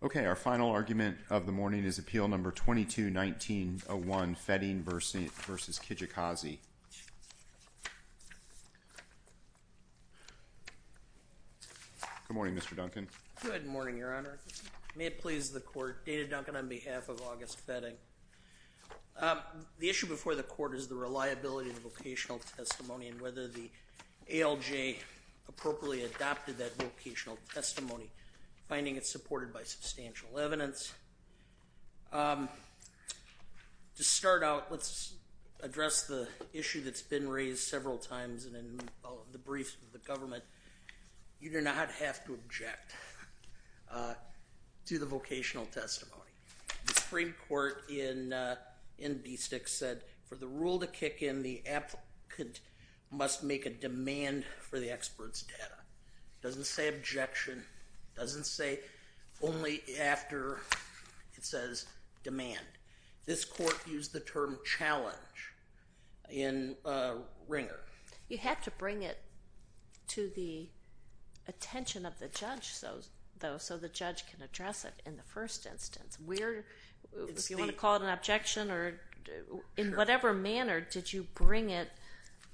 Okay, our final argument of the morning is Appeal Number 22-19-01, Fetting v. Kijakazi. Good morning, Mr. Duncan. Good morning, Your Honor. May it please the Court, Dana Duncan on behalf of August Fetting. The issue before the Court is the reliability of adopted that vocational testimony, finding it supported by substantial evidence. To start out, let's address the issue that's been raised several times in the briefs of the government. You do not have to object to the vocational testimony. The Supreme Court in D-6 said for the rule to kick in the applicant must make a demand for the expert's data. It doesn't say objection, doesn't say only after it says demand. This Court used the term challenge in Ringer. You have to bring it to the attention of the judge, though, so the judge can address it in the first instance. If you want to call it an objection or in whatever manner, did you bring it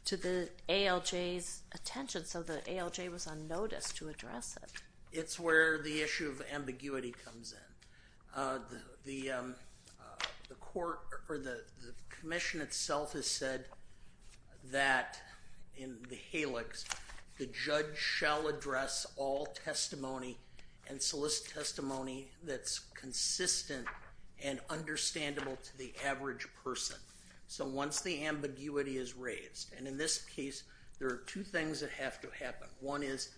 to the ALJ's attention so the ALJ was on notice to address it? It's where the issue of ambiguity comes in. The Court or the Commission itself has said that in the HALIX, the judge shall address all testimony and solicit testimony that's consistent and understandable to the average person. So once the ambiguity is raised, and in this case, there are two things that have to happen. One is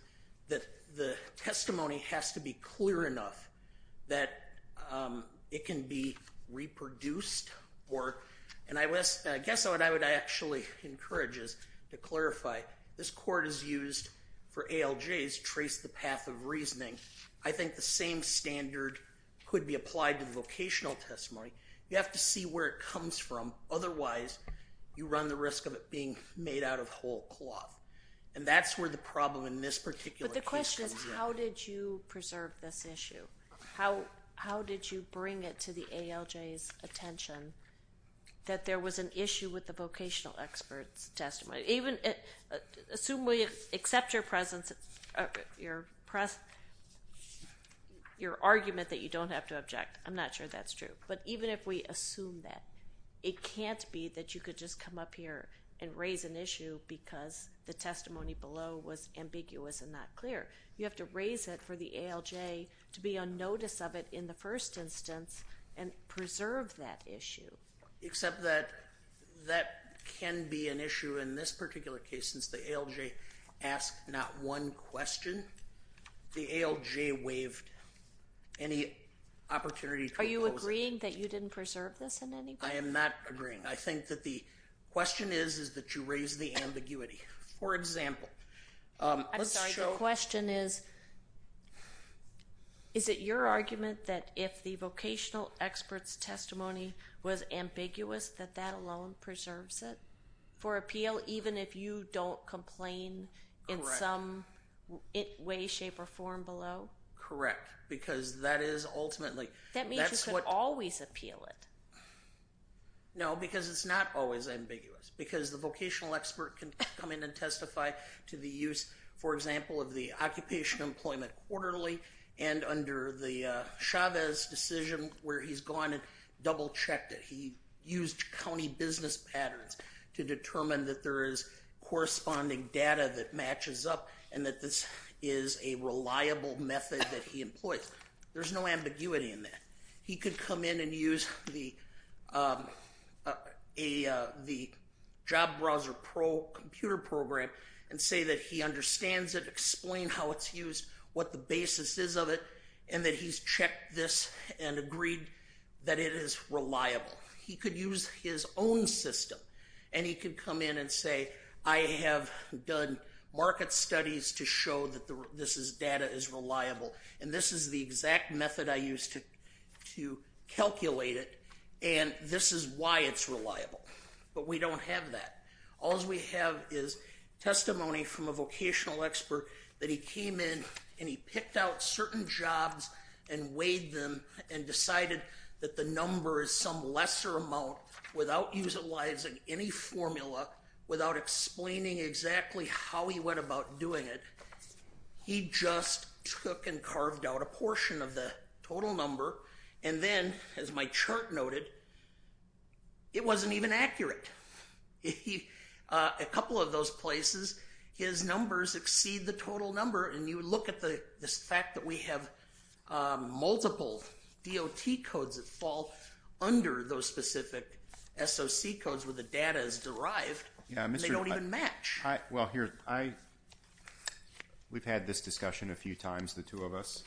that the testimony has to be clear enough that it can be reproduced or, and I guess what I would actually encourage is to clarify, this Court has used for ALJ's trace the path of reasoning. I think the same standard could be applied to the vocational testimony. You have to see where it comes from. Otherwise, you run the risk of it being made out of whole cloth, and that's where the problem in this particular case comes in. But the question is how did you with the vocational experts' testimony? Assume we accept your presence, your argument that you don't have to object. I'm not sure that's true. But even if we assume that, it can't be that you could just come up here and raise an issue because the testimony below was ambiguous and not clear. You have to raise it for the ALJ to be on notice of it in the first instance and preserve that can be an issue in this particular case since the ALJ asked not one question. The ALJ waived any opportunity. Are you agreeing that you didn't preserve this in any way? I am not agreeing. I think that the question is, is that you raise the ambiguity. For example, I'm sorry, the question is, is it your argument that if the vocational experts' testimony was ambiguous that that alone preserves it for appeal even if you don't complain in some way, shape, or form below? Correct, because that is ultimately. That means you could always appeal it. No, because it's not always ambiguous because the vocational expert can come in and testify to the use, for example, of the occupation employment quarterly and under the Chavez decision where he's gone and double checked it. He used county business patterns to determine that there is corresponding data that matches up and that this is a reliable method that he employs. There's no ambiguity in that. He could come in and use the JobBrowserPro computer program and say that he understands it, explain how it's reliable. He could use his own system and he could come in and say, I have done market studies to show that this data is reliable and this is the exact method I used to calculate it and this is why it's reliable. But we don't have that. All we have is testimony from a vocational expert that he came in and he picked out certain jobs and weighed them and decided that the number is some lesser amount without utilizing any formula, without explaining exactly how he went about doing it. He just took and carved out a portion of the total number and then, as my chart noted, it wasn't even And you look at the fact that we have multiple DOT codes that fall under those specific SOC codes where the data is derived and they don't even match. We've had this discussion a few times, the two of us.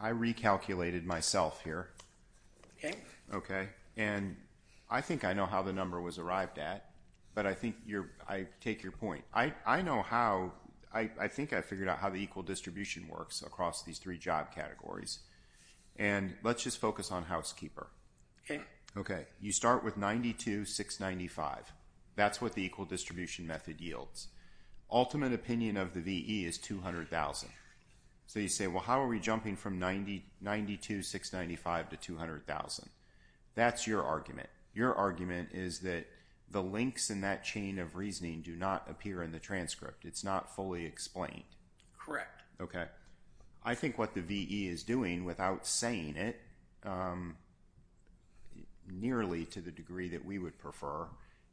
I recalculated myself here. I think I know how the I think I figured out how the equal distribution works across these three job categories. Let's just focus on housekeeper. You start with 92,695. That's what the equal distribution method yields. Ultimate opinion of the VE is 200,000. So you say, well, how are we jumping from 92,695 to 200,000? That's your argument. Your here in the transcript. It's not fully explained. Correct. Okay. I think what the VE is doing without saying it nearly to the degree that we would prefer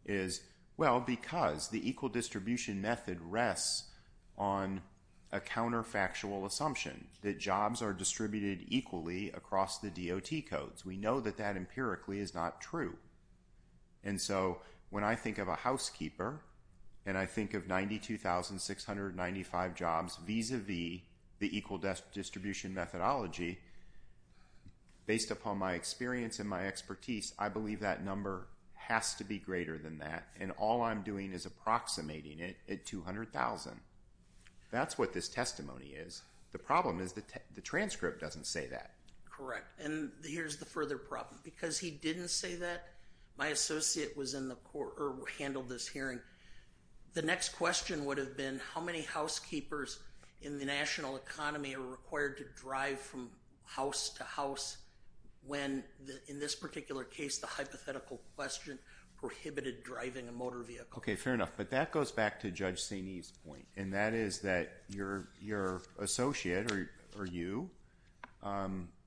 is, well, because the equal distribution method rests on a counterfactual assumption that jobs are distributed equally across the DOT codes. We know that that empirically is not true. And so when I think of a housekeeper and I think of 92,695 jobs vis-a-vis the equal distribution methodology, based upon my experience and my expertise, I believe that number has to be greater than that. And all I'm doing is approximating it at 200,000. That's what this testimony is. The problem is that the transcript doesn't say that. Correct. And here's the further problem. Because he didn't say that, my associate was in the court or handled this hearing. The next question would have been, how many housekeepers in the national economy are required to drive from house to house when, in this particular case, the hypothetical question prohibited driving a motor vehicle? Okay. Fair enough. But that goes back to Judge St. Eve's point. And that is that your associate, or you,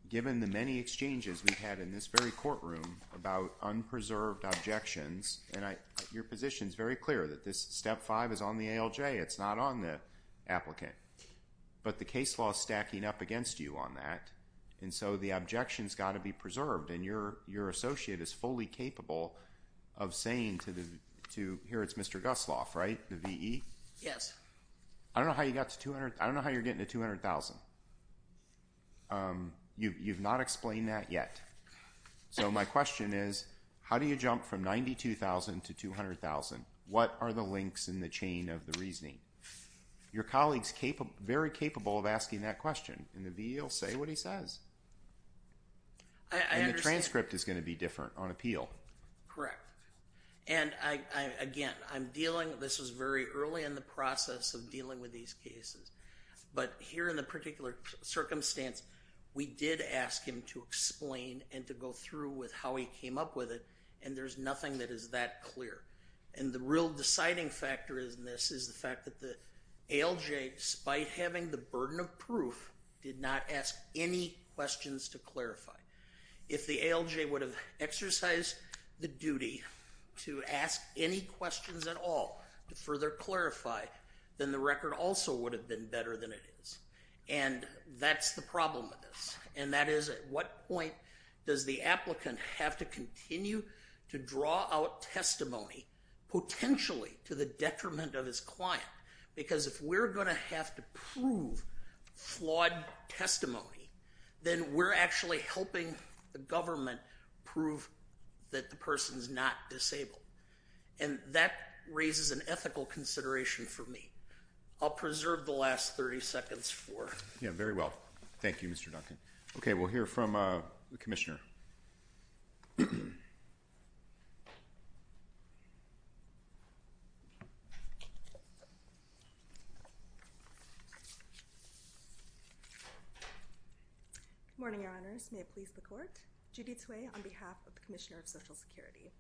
given the many exchanges we've had in this very courtroom about unpreserved objections, and your position is very clear that this Step 5 is on the ALJ. It's not on the applicant. But the case law is stacking up against you on that. And so the answer is Mr. Gusloff, right? The V.E.? Yes. I don't know how you got to 200,000. I don't know how you're getting to 200,000. You've not explained that yet. So my question is, how do you jump from 92,000 to 200,000? What are the links in the chain of the reasoning? Your colleague's very capable of asking that question. And the V.E. will say what he says. And the transcript is going to be different on appeal. Correct. And again, I'm dealing, this was very early in the process of dealing with these cases. But here in the particular circumstance, we did ask him to explain and to go through with how he came up with it. And there's nothing that is that clear. And the real deciding factor in this is the fact that the ALJ, despite having the questions to clarify, if the ALJ would have exercised the duty to ask any questions at all to further clarify, then the record also would have been better than it is. And that's the problem with this. And that is, at what point does the applicant have to continue to And we're actually helping the government prove that the person's not disabled. And that raises an ethical consideration for me. I'll preserve the last 30 seconds for. Yeah, very well. Thank you, Mr. Duncan. Okay, we'll hear from the commissioner. Morning, Your Honors. May it please the court. Judy Tsui on behalf of the Commissioner of Social Security.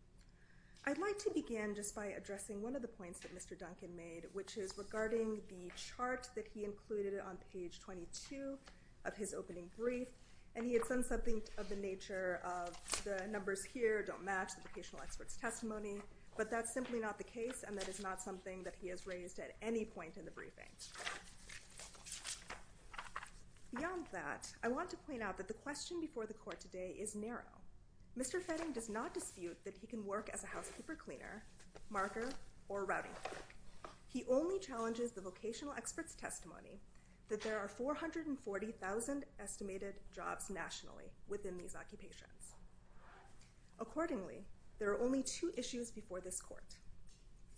I'd like to begin just by addressing one of the points that Mr. Duncan made, which is regarding the chart that he included on page 22 of his opening brief. And he had said something of the nature of the numbers here don't match the vocational experts testimony. But that's simply not the case. And that is not something that he has raised at any point in the briefing. Beyond that, I want to point out that the question before the court today is narrow. Mr. Fetting does not dispute that he can work as a housekeeper cleaner, marker, or rowdy. He only challenges the vocational experts testimony that there are 440,000 estimated jobs nationally within these occupations. Accordingly, there are only two issues before this court.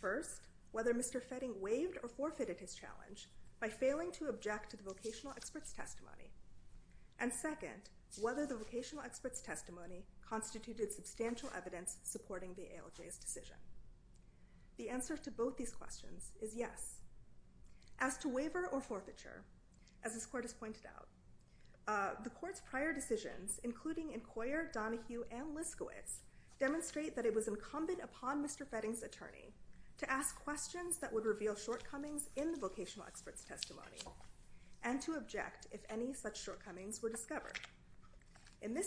First, whether Mr. Fetting waived or forfeited his challenge by failing to object to the vocational experts testimony. And second, whether the vocational experts testimony constituted substantial evidence supporting the ALJ's decision. The answer to both these questions is yes. As to waiver or forfeiture, as this court has pointed out, the court's prior decisions, including Inquire, Donahue, and Liskowitz, demonstrate that it was incumbent upon Mr. Fetting's attorney to ask questions that would reveal shortcomings in the vocational experts testimony and to object if any such shortcomings were found.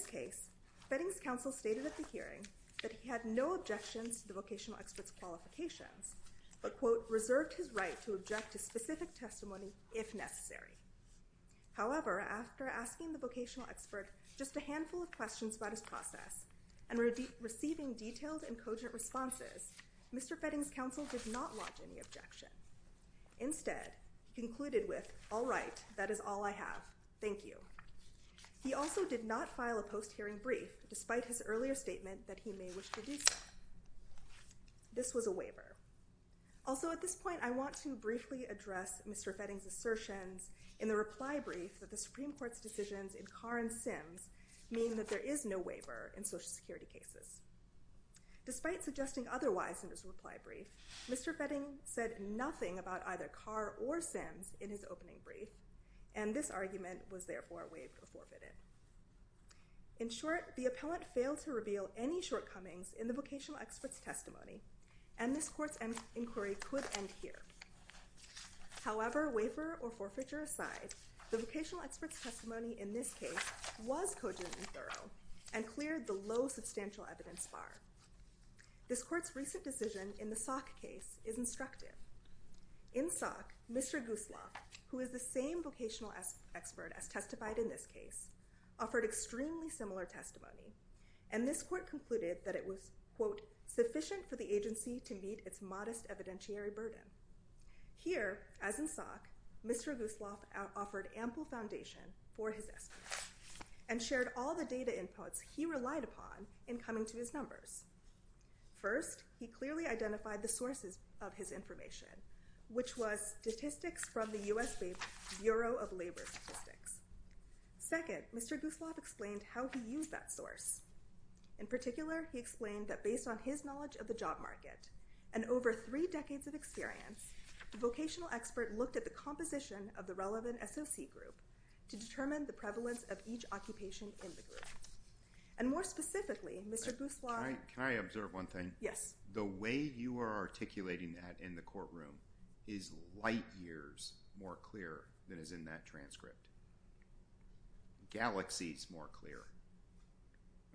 Fetting's counsel stated at the hearing that he had no objections to the vocational experts qualifications, but, quote, reserved his right to object to specific testimony if necessary. However, after asking the vocational expert just a handful of questions about his process and receiving detailed and earlier statement that he may wish to do so. This was a waiver. Also, at this point, I want to briefly address Mr. Fetting's assertions in the reply brief that the Supreme Court's decisions in Carr and Sims mean that there is no waiver in Social Security cases. Despite suggesting otherwise in his reply brief, Mr. Fetting said nothing about either Carr or Sims in his opening brief, and this argument was therefore waived or forfeited. In short, the appellant failed to reveal any shortcomings in the vocational experts testimony, and this court's inquiry could end here. However, waiver or forfeiture aside, the vocational experts In SOC, Mr. Gusloff, who is the same vocational expert as testified in this case, offered extremely similar testimony, and this court concluded that it was, quote, sufficient for the agency to meet its modest evidentiary burden. Here, as in SOC, Mr. Gusloff offered ample foundation for his expert and shared all the data inputs he which was statistics from the U.S. Bureau of Labor Statistics. Second, Mr. Gusloff explained how he used that source. In particular, he explained that based on his knowledge of the job market and over three decades of experience, the vocational expert looked at the composition of the relevant SOC group to determine the is light years more clear than is in that transcript? Galaxies more clear?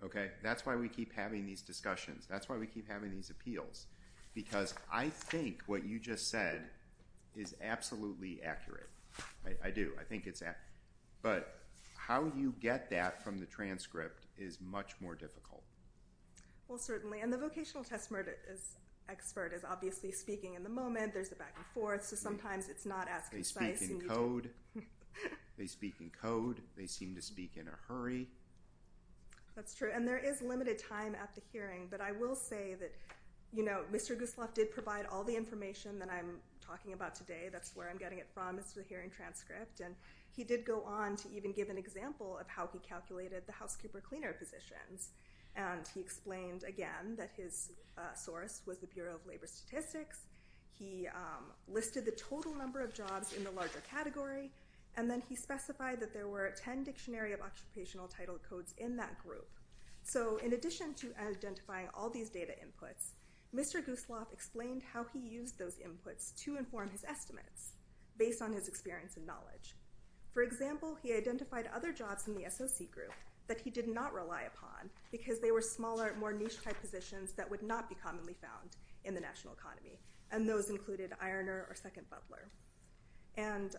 Okay, that's why we keep having these discussions. That's why we keep having these appeals, because I think what you just said is absolutely accurate. I do. I think it's accurate. But how you get that from the transcript is much more So sometimes it's not as concise. They speak in code. They seem to speak in a hurry. That's true. And there is limited time at the hearing, but I will say that, you know, Mr. Gusloff did provide all the information that I'm talking about today. That's where I'm getting it from, is the hearing transcript. And he did go on to even give an example of how he calculated the housekeeper cleaner positions. And he explained, again, that his source was the Bureau of Labor Statistics. He listed the total number of jobs in the larger category. And then he specified that there were 10 dictionary of occupational title codes in that group. So in addition to identifying all these data inputs, Mr. Gusloff explained how he used those inputs to inform his estimates based on his experience and knowledge. For example, he identified other jobs in the SOC group that he did not rely upon because they were smaller, more niche-type positions that would not be commonly found in the national economy. And those included ironer or second butler. And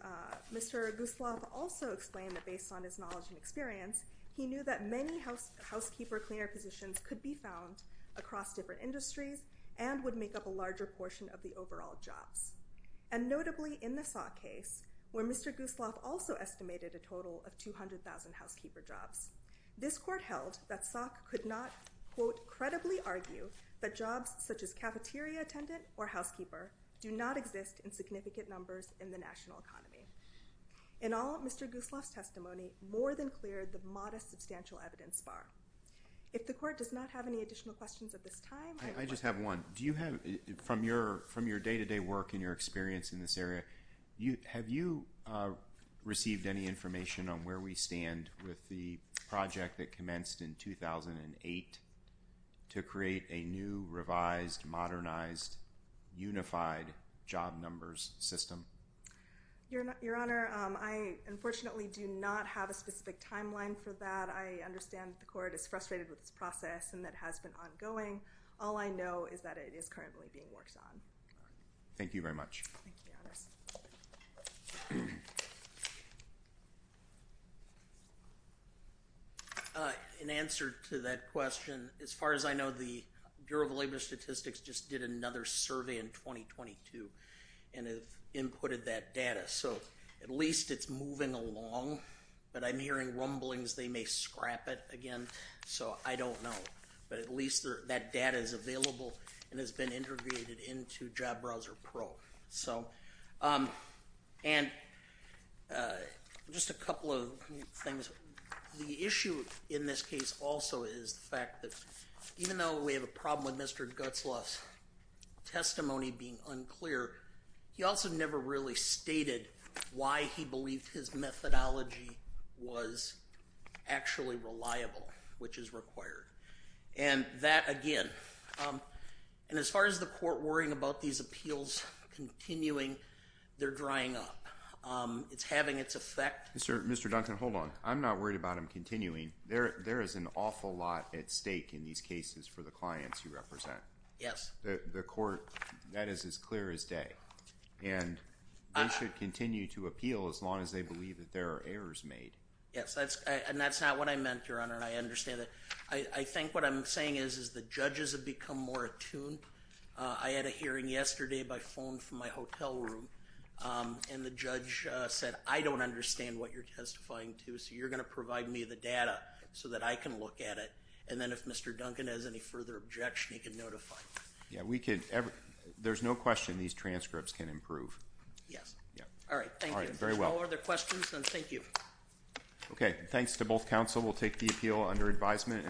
Mr. Gusloff also explained that based on his knowledge and experience, he knew that many housekeeper cleaner positions could be found across different industries and would make up a larger portion of the overall jobs. And notably in the SOC case, where Mr. Gusloff also estimated a total of 200,000 housekeeper jobs, this court held that SOC could not, quote, credibly argue that jobs such as cafeteria attendant or housekeeper do not exist in significant numbers in the national economy. In all, Mr. Gusloff's testimony more than cleared the modest substantial evidence bar. If the court does not have any additional questions at this time, I would like to I just have one. From your day-to-day work and your experience in this area, have you received any information on where we stand with the project that commenced in 2008 to create a new, revised, modernized, unified job numbers system? Your Honor, I unfortunately do not have a specific timeline for that. I understand the court is frustrated with this process and that has been ongoing. All I know is that it is currently being worked on. Thank you very much. In answer to that question, as far as I know, the Bureau of Labor Statistics just did another survey in 2022 and have inputted that data. So at least it's moving along, but I'm hearing rumblings they may scrap it again. So I don't know, but at least that data is available and has been integrated into Job Browser Pro. Just a couple of things. The issue in this case also is the fact that even though we have a problem with Mr. Gusloff's testimony being unclear, he also never really stated why he believed his methodology was actually reliable, which is required. And that, again, as far as the court worrying about these appeals continuing, they're drying up. It's having its effect. Mr. Dunton, hold on. I'm not worried about them continuing. There is an awful lot at stake in these cases for the clients you represent. Yes. The court, that is as clear as day. And they should continue to appeal as long as they believe that there are errors made. Yes, and that's not what I meant, Your Honor, and I understand that. I think what I'm saying is the judges have become more attuned. I had a hearing yesterday by phone from my hotel room, and the judge said, I don't understand what you're testifying to, so you're going to provide me the data so that I can look at it. And then if Mr. Duncan has any further objection, he can notify me. There's no question these transcripts can improve. Yes. All right, very well. If there are no further questions, then thank you. Okay, thanks to both counsel. We'll take the appeal under advisement.